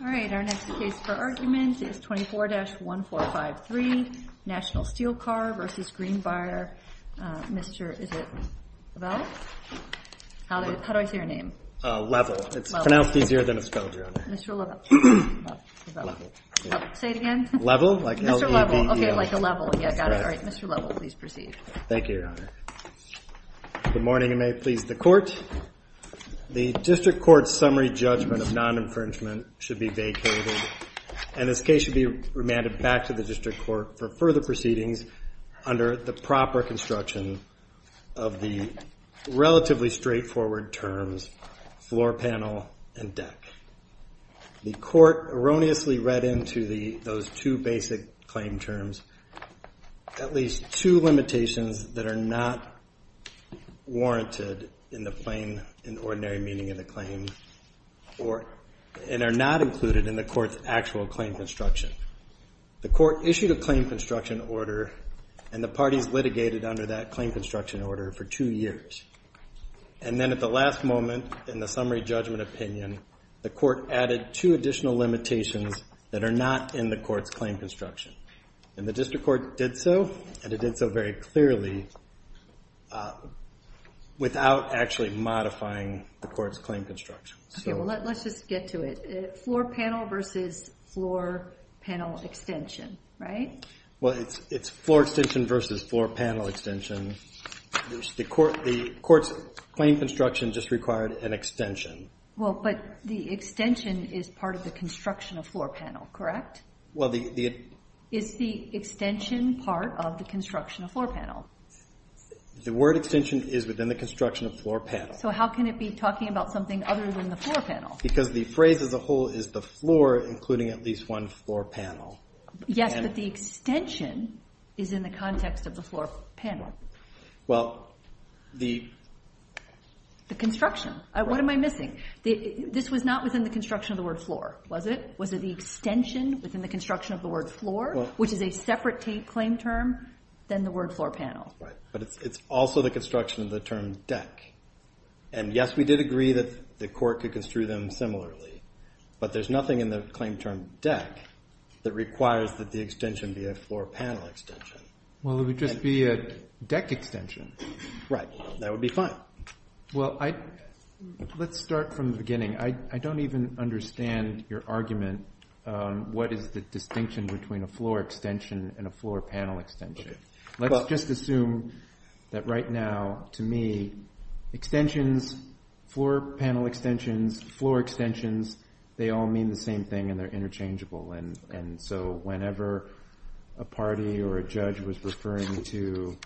All right, our next case for argument is 24-1453 National Steel Car v. Greenbrier, Mr. Levelle. How do I say your name? Levelle. It's pronounced easier than it's spelled, Your Honor. Mr. Levelle. Say it again? Levelle, like L-E-V-E-L. Mr. Levelle. Okay, like a level. Yeah, got it. All right, Mr. Levelle, please proceed. Thank you, Your Honor. Good morning and may it please the Court. The District Court's summary judgment of non-infringement should be vacated, and this case should be remanded back to the District Court for further proceedings under the proper construction of the relatively straightforward terms floor panel and deck. The Court erroneously read into those two basic claim terms at least two limitations that are not warranted in the plain and ordinary meaning of the claim and are not included in the Court's actual claim construction. The Court issued a claim construction order, and the parties litigated under that claim construction order for two years. And then at the last moment in the summary judgment opinion, the Court added two additional limitations that are not in the Court's claim construction. And the District Court did so, and it did so very clearly, without actually modifying the Court's claim construction. Okay, well, let's just get to it. Floor panel versus floor panel extension, right? Well, it's floor extension versus floor panel extension. The Court's claim construction just required an extension. Well, but the extension is part of the construction of floor panel, correct? Well, the... Is the extension part of the construction of floor panel? The word extension is within the construction of floor panel. So how can it be talking about something other than the floor panel? Because the phrase as a whole is the floor, including at least one floor panel. Yes, but the extension is in the context of the floor panel. Well, the... The construction. What am I missing? This was not within the construction of the word floor, was it? The extension was in the construction of the word floor, which is a separate claim term than the word floor panel. Right, but it's also the construction of the term deck. And, yes, we did agree that the Court could construe them similarly, but there's nothing in the claim term deck that requires that the extension be a floor panel extension. Well, it would just be a deck extension. Right, that would be fine. Well, let's start from the beginning. I don't even understand your argument. What is the distinction between a floor extension and a floor panel extension? Let's just assume that right now, to me, extensions, floor panel extensions, floor extensions, they all mean the same thing and they're interchangeable. And so whenever a party or a judge was referring to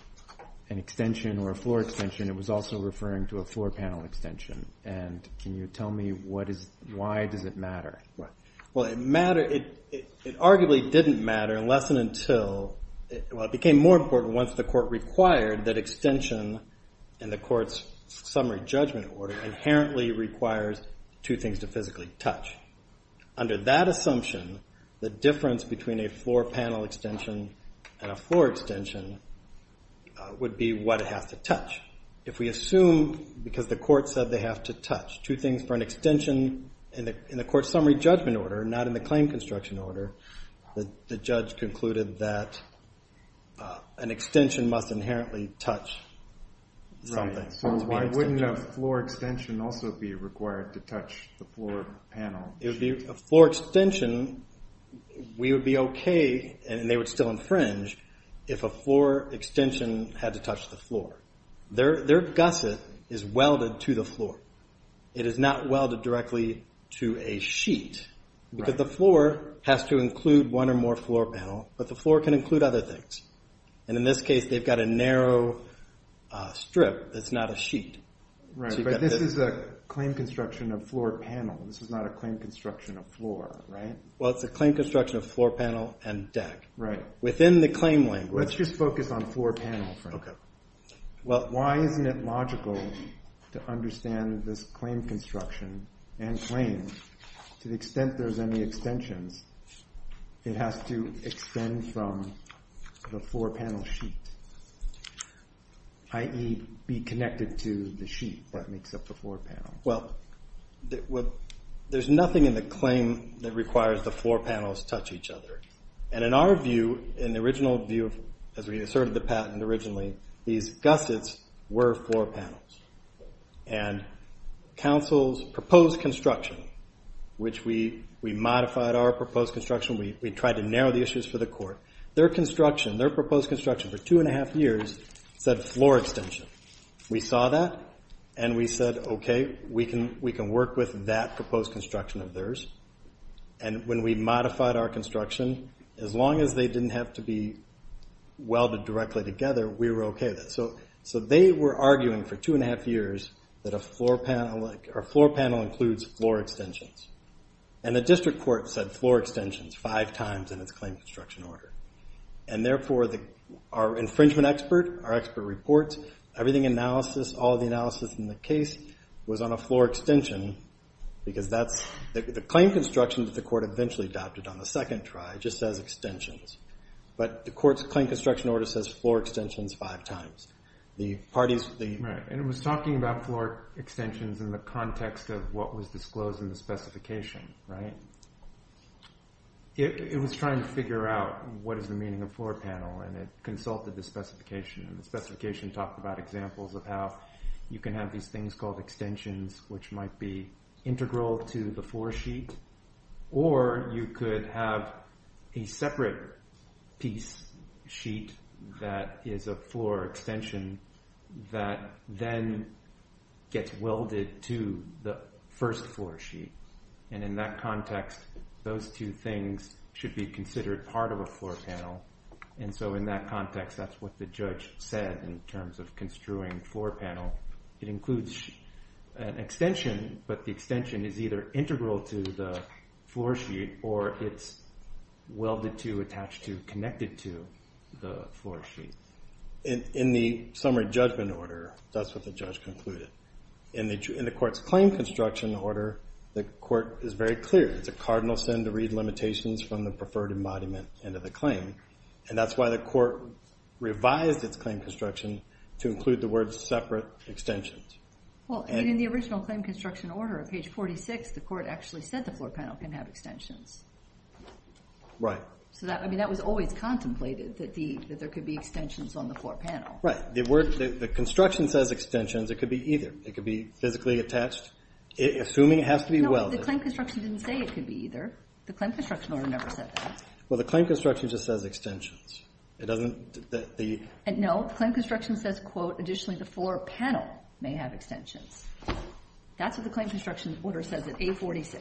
an extension or a floor extension, it was also referring to a floor panel extension. And can you tell me why does it matter? Well, it matter, it arguably didn't matter unless and until, well, it became more important once the Court required that extension in the Court's summary judgment order inherently requires two things to physically touch. Under that assumption, the difference between a floor panel extension and a floor extension would be what it has to touch. If we assume, because the Court said they have to touch, two things for an extension in the Court's summary judgment order, not in the claim construction order, the judge concluded that an extension must inherently touch something. So why wouldn't a floor extension also be required to touch the floor panel? A floor extension, we would be okay, and they would still infringe, if a floor extension had to touch the floor. Their gusset is welded to the floor. It is not welded directly to a sheet, because the floor has to include one or more floor panel, but the floor can include other things. And in this case, they've got a narrow strip that's not a sheet. Right, but this is a claim construction of floor panel. This is not a claim construction of floor, right? Well, it's a claim construction of floor panel and deck. Right. Within the claim language. Let's just focus on floor panel for now. Well, why isn't it logical to understand this claim construction and claim, to the extent there's any extensions, it has to extend from the floor panel sheet, i.e. be connected to the sheet that makes up the floor panel. Well, there's nothing in the claim that requires the floor panels touch each other. And in our view, in the original view, as we asserted the patent originally, these gussets were floor panels. And council's proposed construction, which we modified our proposed construction. We tried to narrow the issues for the court. Their construction, their proposed construction for two and a half years, said floor extension. We saw that, and we said, okay, we can work with that proposed construction of theirs. And when we modified our construction, as long as they didn't have to be welded directly together, we were okay with that. So they were arguing for two and a half years that a floor panel includes floor extensions. And the district court said floor extensions five times in its claim construction order. And therefore, our infringement expert, our expert reports, everything analysis, all the analysis in the case, was on a floor extension because that's the claim construction that the court eventually adopted on the second try, just as extensions. But the court's claim construction order says floor extensions five times. The parties, the- Right. And it was talking about floor extensions in the context of what was disclosed in the specification, right? It was trying to figure out what is the meaning of floor panel, and it consulted the specification. And the specification talked about examples of how you can have these things called extensions, which might be integral to the floor sheet, or you could have a separate piece sheet that is a floor extension that then gets welded to the first floor sheet. And in that context, those two things should be considered part of a floor panel, and so in that context, that's what the judge said in terms of construing floor panel. It includes an extension, but the extension is either integral to the floor sheet or it's welded to, attached to, connected to the floor sheet. In the summary judgment order, that's what the judge concluded. In the court's claim construction order, the court is very clear. It's a cardinal sin to read limitations from the preferred embodiment into the claim, and that's why the court revised its claim construction to include the word separate extensions. Well, in the original claim construction order, on page 46, the court actually said the floor panel can have extensions. Right. I mean, that was always contemplated, that there could be extensions on the floor panel. Right. The construction says extensions. It could be either. It could be physically attached, assuming it has to be welded. No, the claim construction didn't say it could be either. The claim construction order never said that. Well, the claim construction just says extensions. It doesn't? No, the claim construction says, quote, additionally the floor panel may have extensions. That's what the claim construction order says at A46.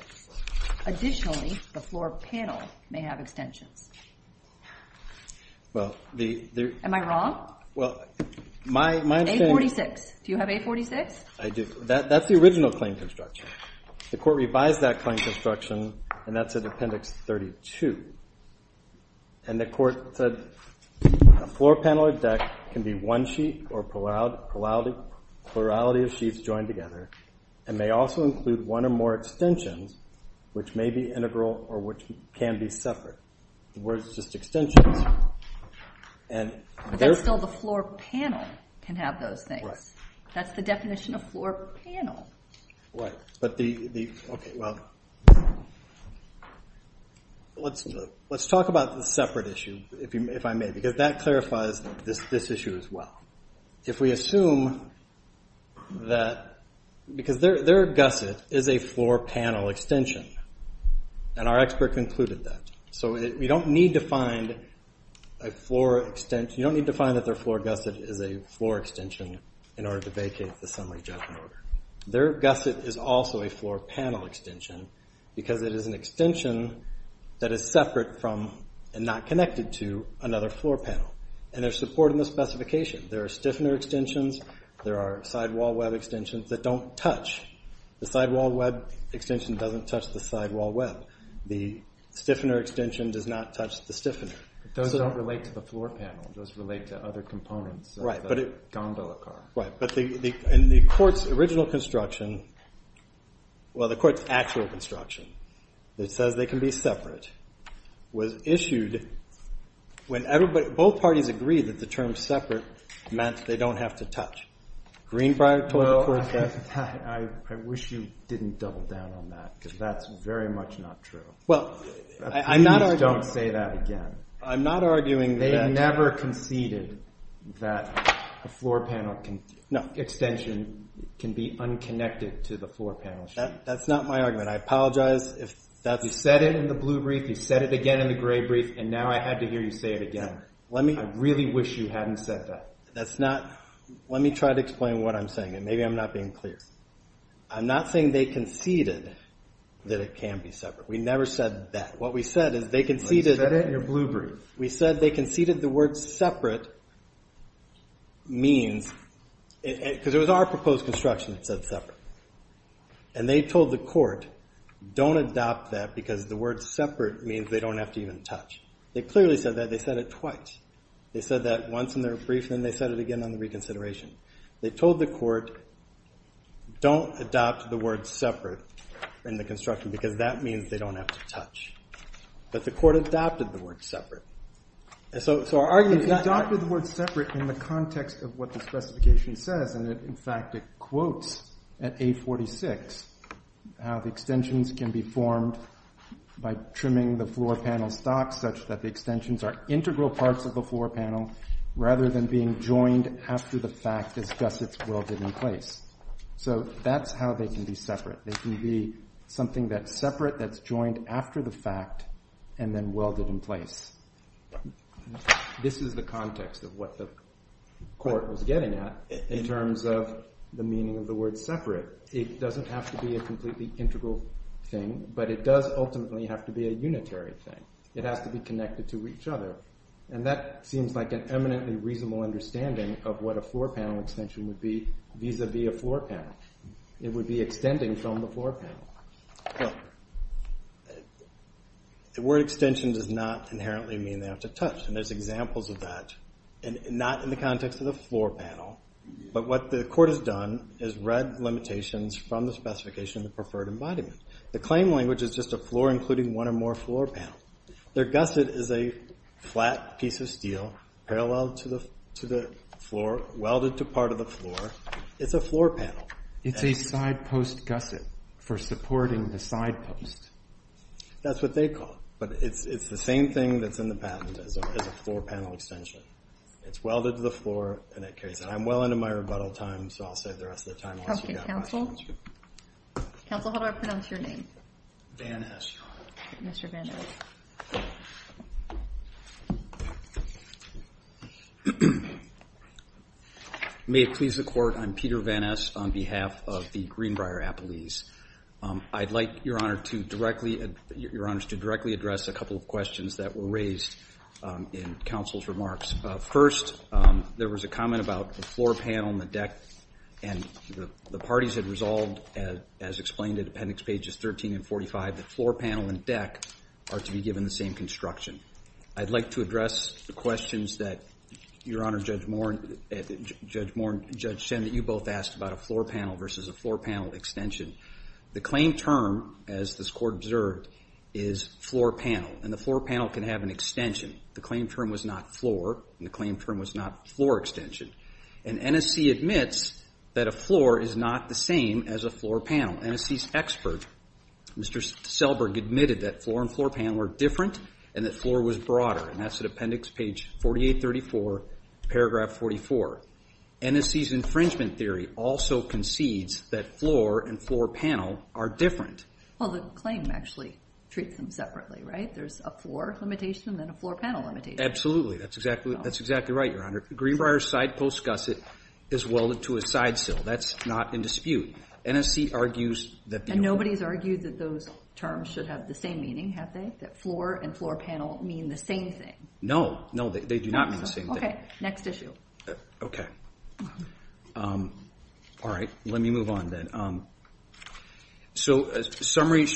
Additionally, the floor panel may have extensions. Am I wrong? A46. Do you have A46? I do. That's the original claim construction. The court revised that claim construction, and that's at Appendix 32. And the court said a floor panel or deck can be one sheet or plurality of sheets joined together, and may also include one or more extensions, which may be integral or which can be separate. The word is just extensions. But that's still the floor panel can have those things. Right. That's the definition of floor panel. Right. Okay, well, let's talk about the separate issue, if I may, because that clarifies this issue as well. If we assume that because their gusset is a floor panel extension, and our expert concluded that. So you don't need to find a floor extension. You don't need to find that their floor gusset is a floor extension in order to vacate the summary judgment order. Their gusset is also a floor panel extension because it is an extension that is separate from and not connected to another floor panel. And there's support in the specification. There are stiffener extensions. There are sidewall web extensions that don't touch. The sidewall web extension doesn't touch the sidewall web. The stiffener extension does not touch the stiffener. Those don't relate to the floor panel. Those relate to other components of the gondola car. Right. But in the court's original construction, well, the court's actual construction that says they can be separate was issued when both parties agreed that the term separate meant they don't have to touch. Greenbrier court said. Well, I wish you didn't double down on that because that's very much not true. Well, I'm not arguing. Please don't say that again. I'm not arguing that. They never conceded that a floor panel extension can be unconnected to the floor panel. That's not my argument. I apologize if that's. You said it in the blue brief. You said it again in the gray brief, and now I had to hear you say it again. I really wish you hadn't said that. That's not. Let me try to explain what I'm saying, and maybe I'm not being clear. I'm not saying they conceded that it can be separate. We never said that. What we said is they conceded. You said it in your blue brief. We said they conceded the word separate means, because it was our proposed construction that said separate. And they told the court, don't adopt that because the word separate means they don't have to even touch. They clearly said that. They said it twice. They said that once in their brief, and then they said it again on the reconsideration. They told the court, don't adopt the word separate in the construction because that means they don't have to touch. But the court adopted the word separate. And so our argument is not. Adopted the word separate in the context of what the specification says. And in fact, it quotes at 846 how the extensions can be formed by trimming the floor panel stock, such that the extensions are integral parts of the floor panel, rather than being joined after the fact is just it's welded in place. So that's how they can be separate. They can be something that's separate, that's joined after the fact, and then welded in place. This is the context of what the court was getting at in terms of the meaning of the word separate. It doesn't have to be a completely integral thing, but it does ultimately have to be a unitary thing. It has to be connected to each other. And that seems like an eminently reasonable understanding of what a floor panel extension would be vis-a-vis a floor panel. It would be extending from the floor panel. Well, the word extension does not inherently mean they have to touch. And there's examples of that, and not in the context of the floor panel. But what the court has done is read limitations from the specification of the preferred embodiment. The claim language is just a floor including one or more floor panels. Their gusset is a flat piece of steel parallel to the floor, welded to part of the floor. It's a floor panel. It's a side post gusset for supporting the side post. That's what they call it. But it's the same thing that's in the patent as a floor panel extension. It's welded to the floor, and it carries it. I'm well into my rebuttal time, so I'll save the rest of the time. Okay, counsel. Counsel, how do I pronounce your name? Van Esch. Mr. Van Esch. May it please the Court, I'm Peter Van Esch on behalf of the Greenbrier Appellees. I'd like, Your Honor, to directly address a couple of questions that were raised in counsel's remarks. First, there was a comment about the floor panel and the deck, and the parties had resolved, as explained in Appendix Pages 13 and 45, that floor panel and deck are to be given the same construction. I'd like to address the questions that, Your Honor, Judge Moore and Judge Shen, that you both asked about a floor panel versus a floor panel extension. The claim term, as this Court observed, is floor panel, and the floor panel can have an extension. The claim term was not floor, and the claim term was not floor extension. And NSC admits that a floor is not the same as a floor panel. NSC's expert, Mr. Selberg, admitted that floor and floor panel are different and that floor was broader, and that's at Appendix Page 4834, Paragraph 44. NSC's infringement theory also concedes that floor and floor panel are different. Well, the claim actually treats them separately, right? There's a floor limitation and a floor panel limitation. Absolutely. That's exactly right, Your Honor. Greenbrier's side post gusset is welded to a side sill. That's not in dispute. NSC argues that the- And nobody's argued that those terms should have the same meaning, have they, that floor and floor panel mean the same thing? No, no, they do not mean the same thing. Okay, next issue. Okay. All right, let me move on then. So a summary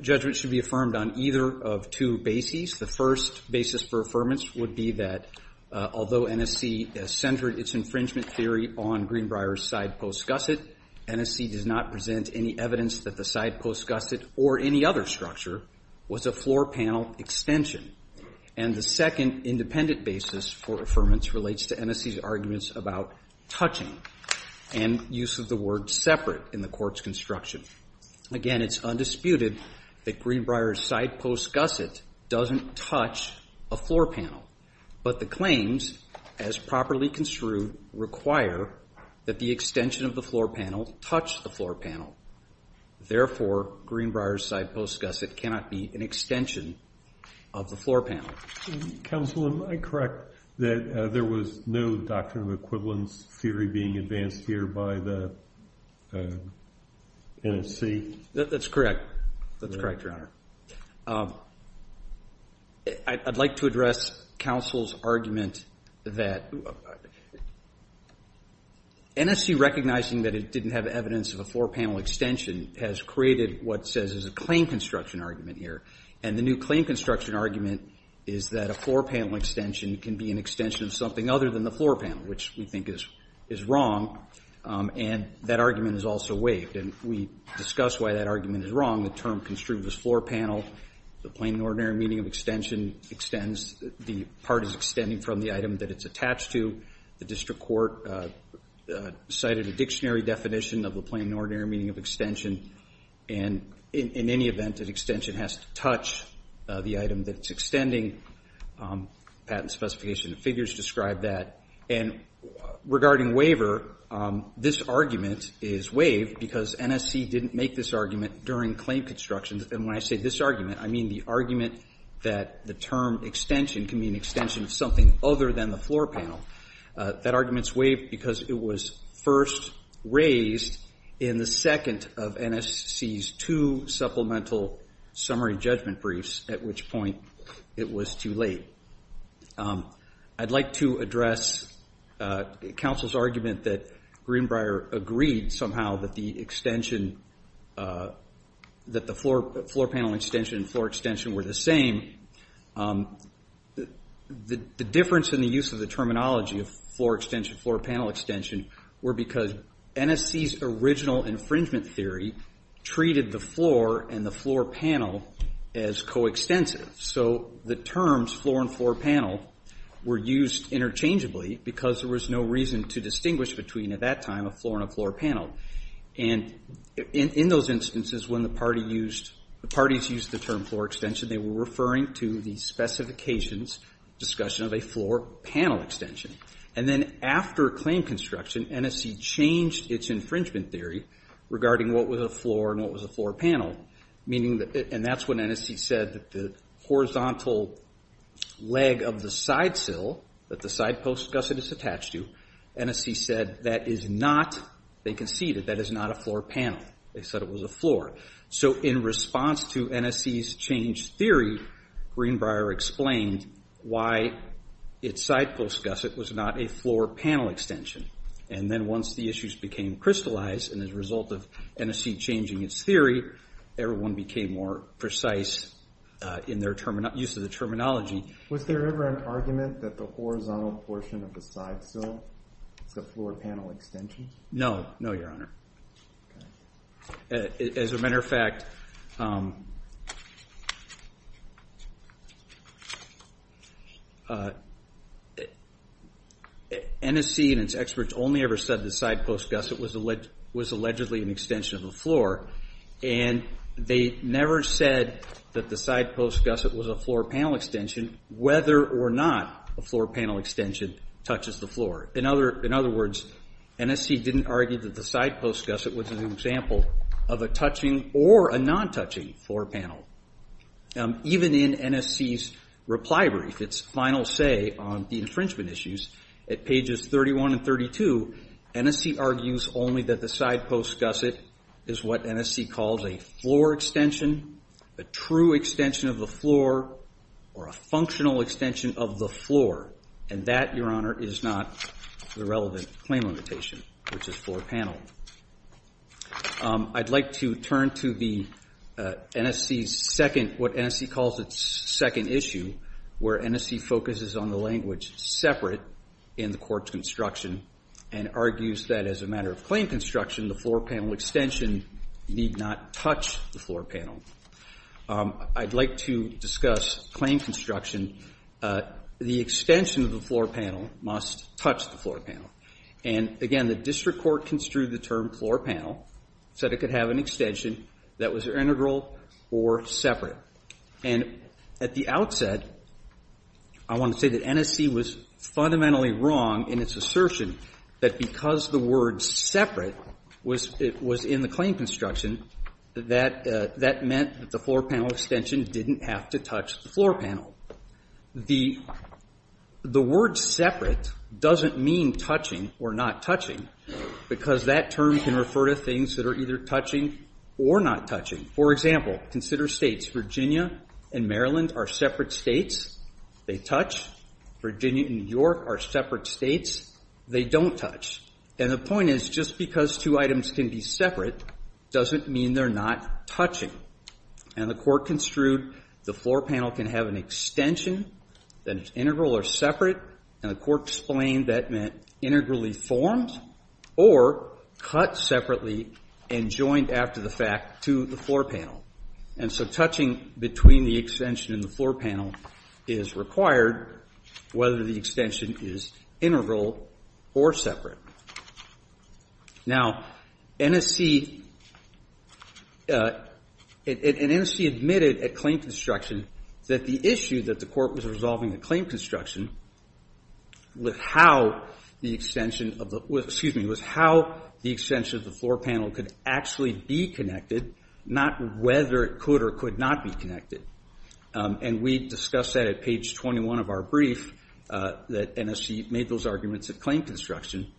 judgment should be affirmed on either of two bases. The first basis for affirmance would be that although NSC centered its infringement theory on Greenbrier's side post gusset, NSC does not present any evidence that the side post gusset or any other structure was a floor panel extension. And the second independent basis for affirmance relates to NSC's arguments about touching and use of the word separate in the court's construction. Again, it's undisputed that Greenbrier's side post gusset doesn't touch a floor panel, but the claims, as properly construed, require that the extension of the floor panel touch the floor panel. Therefore, Greenbrier's side post gusset cannot be an extension of the floor panel. Counsel, am I correct that there was no doctrine of equivalence theory being advanced here by the NSC? That's correct. That's correct, Your Honor. I'd like to address counsel's argument that NSC recognizing that it didn't have evidence of a floor panel extension has created what says is a claim construction argument here. And the new claim construction argument is that a floor panel extension can be an extension of something other than the floor panel, which we think is wrong. And that argument is also waived. And we discussed why that argument is wrong. The term construed as floor panel. The plain and ordinary meaning of extension extends. The part is extending from the item that it's attached to. The district court cited a dictionary definition of the plain and ordinary meaning of extension. And in any event, an extension has to touch the item that it's extending. Patent specification figures describe that. And regarding waiver, this argument is waived because NSC didn't make this argument during claim construction. And when I say this argument, I mean the argument that the term extension can be an extension of something other than the floor panel. That argument is waived because it was first raised in the second of NSC's two supplemental summary judgment briefs, at which point it was too late. I'd like to address counsel's argument that Greenbrier agreed somehow that the extension, that the floor panel extension and floor extension were the same. The difference in the use of the terminology of floor extension, floor panel extension, were because NSC's original infringement theory treated the floor and the floor panel as coextensive. So the terms floor and floor panel were used interchangeably because there was no reason to distinguish between, at that time, a floor and a floor panel. And in those instances when the parties used the term floor extension, they were referring to the specifications discussion of a floor panel extension. And then after claim construction, NSC changed its infringement theory regarding what was a floor and what was a floor panel, and that's when NSC said that the horizontal leg of the side sill that the side post gusset is attached to, NSC said that is not, they conceded, that is not a floor panel. They said it was a floor. So in response to NSC's changed theory, Greenbrier explained why its side post gusset was not a floor panel extension. And then once the issues became crystallized and as a result of NSC changing its theory, everyone became more precise in their use of the terminology. Was there ever an argument that the horizontal portion of the side sill is a floor panel extension? No. No, Your Honor. Okay. As a matter of fact, NSC and its experts only ever said the side post gusset was allegedly an extension of the floor, and they never said that the side post gusset was a floor panel extension whether or not a floor panel extension touches the floor. In other words, NSC didn't argue that the side post gusset was an example of a touching or a non-touching floor panel. Even in NSC's reply brief, its final say on the infringement issues at pages 31 and 32, NSC argues only that the side post gusset is what NSC calls a floor extension, a true extension of the floor, or a functional extension of the floor. And that, Your Honor, is not the relevant claim limitation, which is floor panel. I'd like to turn to the NSC's second, what NSC calls its second issue, where NSC focuses on the language separate in the court's construction and argues that as a matter of claim construction, the floor panel extension need not touch the floor panel. I'd like to discuss claim construction. The extension of the floor panel must touch the floor panel. And again, the district court construed the term floor panel, said it could have an extension that was integral or separate. And at the outset, I want to say that NSC was fundamentally wrong in its assertion that because the word separate was in the claim construction, that meant that the floor panel extension didn't have to touch the floor panel. The word separate doesn't mean touching or not touching, because that term can refer to things that are either touching or not touching. For example, consider states. Virginia and Maryland are separate states. They touch. Virginia and New York are separate states. They don't touch. And the point is just because two items can be separate doesn't mean they're not touching. And the court construed the floor panel can have an extension that is integral or separate, and the court explained that meant integrally formed or cut separately and joined after the fact to the floor panel. And so touching between the extension and the floor panel is required, whether the extension is integral or separate. Now, NSC admitted at claim construction that the issue that the court was resolving the claim construction was how the extension of the floor panel could actually be connected, not whether it could or could not be connected. And we discussed that at page 21 of our brief, that NSC made those arguments at claim construction.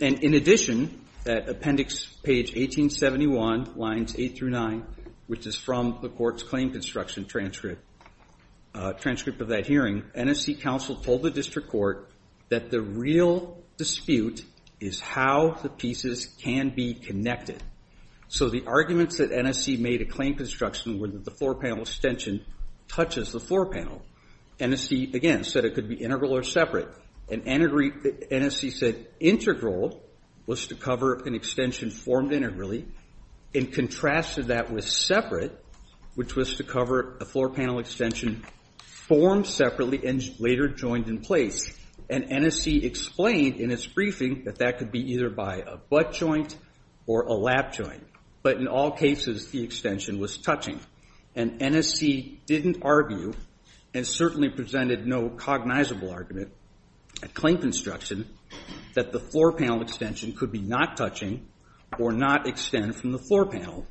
And in addition, at appendix page 1871, lines 8 through 9, which is from the court's claim construction transcript of that hearing, NSC counsel told the district court that the real dispute is how the pieces can be connected. So the arguments that NSC made at claim construction were that the floor panel extension touches the floor panel. NSC, again, said it could be integral or separate. And NSC said integral was to cover an extension formed integrally and contrasted that with separate, which was to cover a floor panel extension formed separately and later joined in place. And NSC explained in its briefing that that could be either by a butt joint or a lap joint. But in all cases, the extension was touching. And NSC didn't argue and certainly presented no cognizable argument at claim construction that the floor panel extension could be not touching or not extend from the floor panel.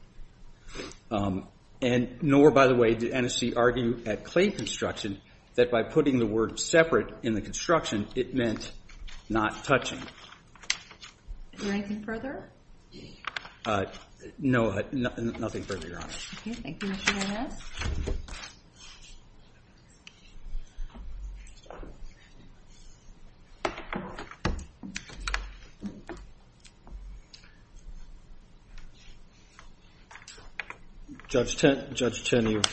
And nor, by the way, did NSC argue at claim construction that by putting the word separate in the construction, it meant not touching. Is there anything further? No, nothing further, Your Honor. Okay, thank you, Mr. Gomez. Judge Tinn, you've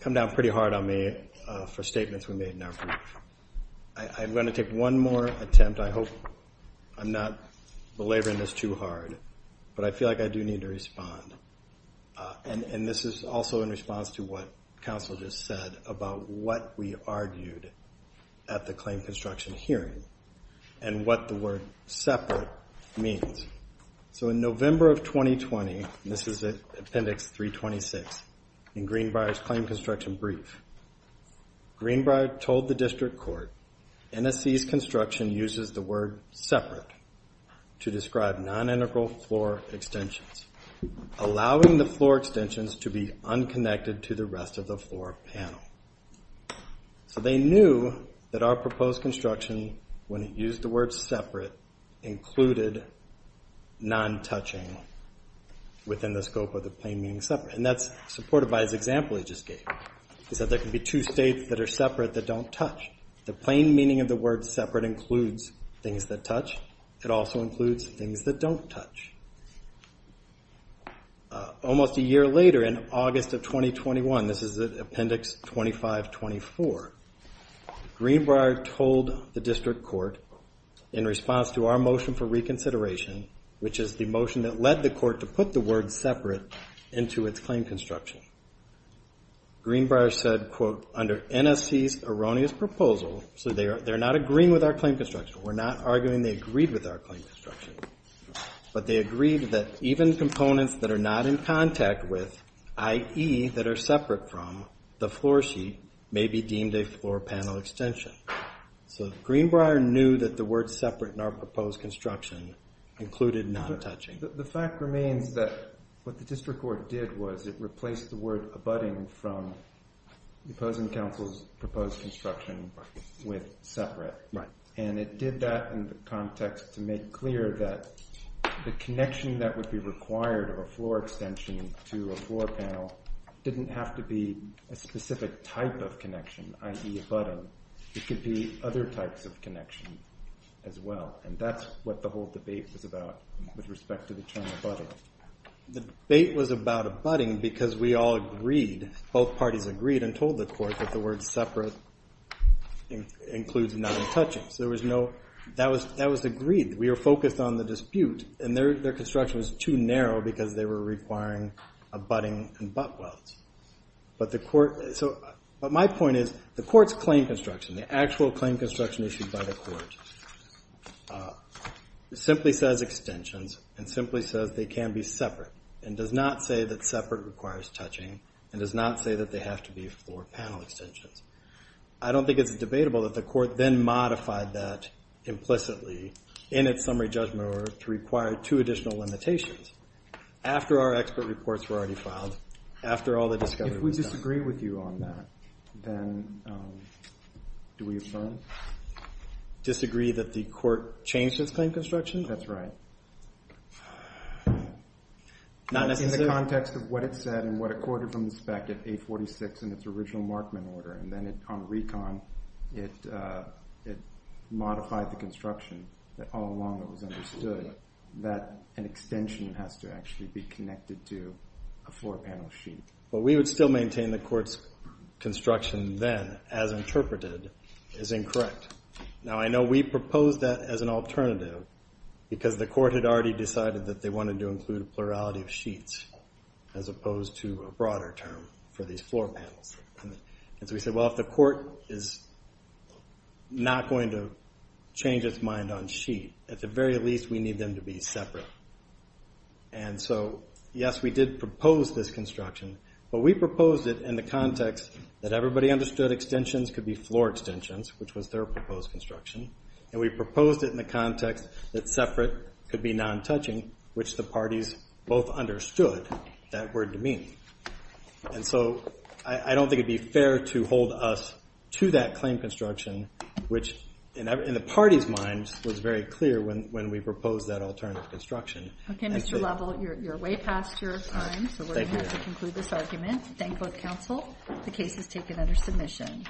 come down pretty hard on me for statements we made in our brief. I'm going to take one more attempt. I hope I'm not belaboring this too hard, but I feel like I do need to respond. And this is also in response to what counsel just said about what we argued at the claim construction hearing and what the word separate means. So in November of 2020, and this is Appendix 326 in Greenbrier's claim construction brief, Greenbrier told the district court NSC's construction uses the word separate to describe non-integral floor extensions, allowing the floor extensions to be unconnected to the rest of the floor panel. So they knew that our proposed construction, when it used the word separate, included non-touching within the scope of the plain meaning separate. And that's supported by his example he just gave. He said there can be two states that are separate that don't touch. The plain meaning of the word separate includes things that touch. It also includes things that don't touch. Almost a year later, in August of 2021, this is Appendix 2524, Greenbrier told the district court in response to our motion for reconsideration, which is the motion that led the court to put the word separate into its claim construction, Greenbrier said, quote, under NSC's erroneous proposal, so they're not agreeing with our claim construction. We're not arguing they agreed with our claim construction. But they agreed that even components that are not in contact with, i.e. that are separate from, the floor sheet may be deemed a floor panel extension. So Greenbrier knew that the word separate in our proposed construction included non-touching. The fact remains that what the district court did was it replaced the word abutting from the opposing counsel's proposed construction with separate. And it did that in the context to make clear that the connection that would be required of a floor extension to a floor panel didn't have to be a specific type of connection, i.e. abutting. It could be other types of connection as well. And that's what the whole debate was about with respect to the term abutting. The debate was about abutting because we all agreed, both parties agreed, and told the court that the word separate includes non-touching. That was agreed. We were focused on the dispute, and their construction was too narrow because they were requiring abutting and butt welds. But my point is the court's claim construction, the actual claim construction issued by the court, simply says extensions and simply says they can be separate and does not say that separate requires touching and does not say that they have to be floor panel extensions. I don't think it's debatable that the court then modified that implicitly in its summary judgment order to require two additional limitations after our expert reports were already filed, after all the discovery was done. If we disagree with you on that, then do we affirm? Disagree that the court changed its claim construction? That's right. Not necessarily. In the context of what it said and what it quoted from the spec at 846 in its original Markman order, and then on recon, it modified the construction that all along it was understood that an extension has to actually be connected to a floor panel sheet. What we would still maintain the court's construction then, as interpreted, is incorrect. Now, I know we proposed that as an alternative because the court had already decided that they wanted to include plurality of sheets as opposed to a broader term for these floor panels. And so we said, well, if the court is not going to change its mind on sheet, at the very least we need them to be separate. And so, yes, we did propose this construction, but we proposed it in the context that everybody understood extensions could be floor extensions, which was their proposed construction, and we proposed it in the context that separate could be non-touching, which the parties both understood that word to mean. And so I don't think it would be fair to hold us to that claim construction, which in the party's minds was very clear when we proposed that alternative construction. Okay, Mr. Lovell, you're way past your time, so we're going to have to conclude this argument. Thank both counsel. The case is taken under submission.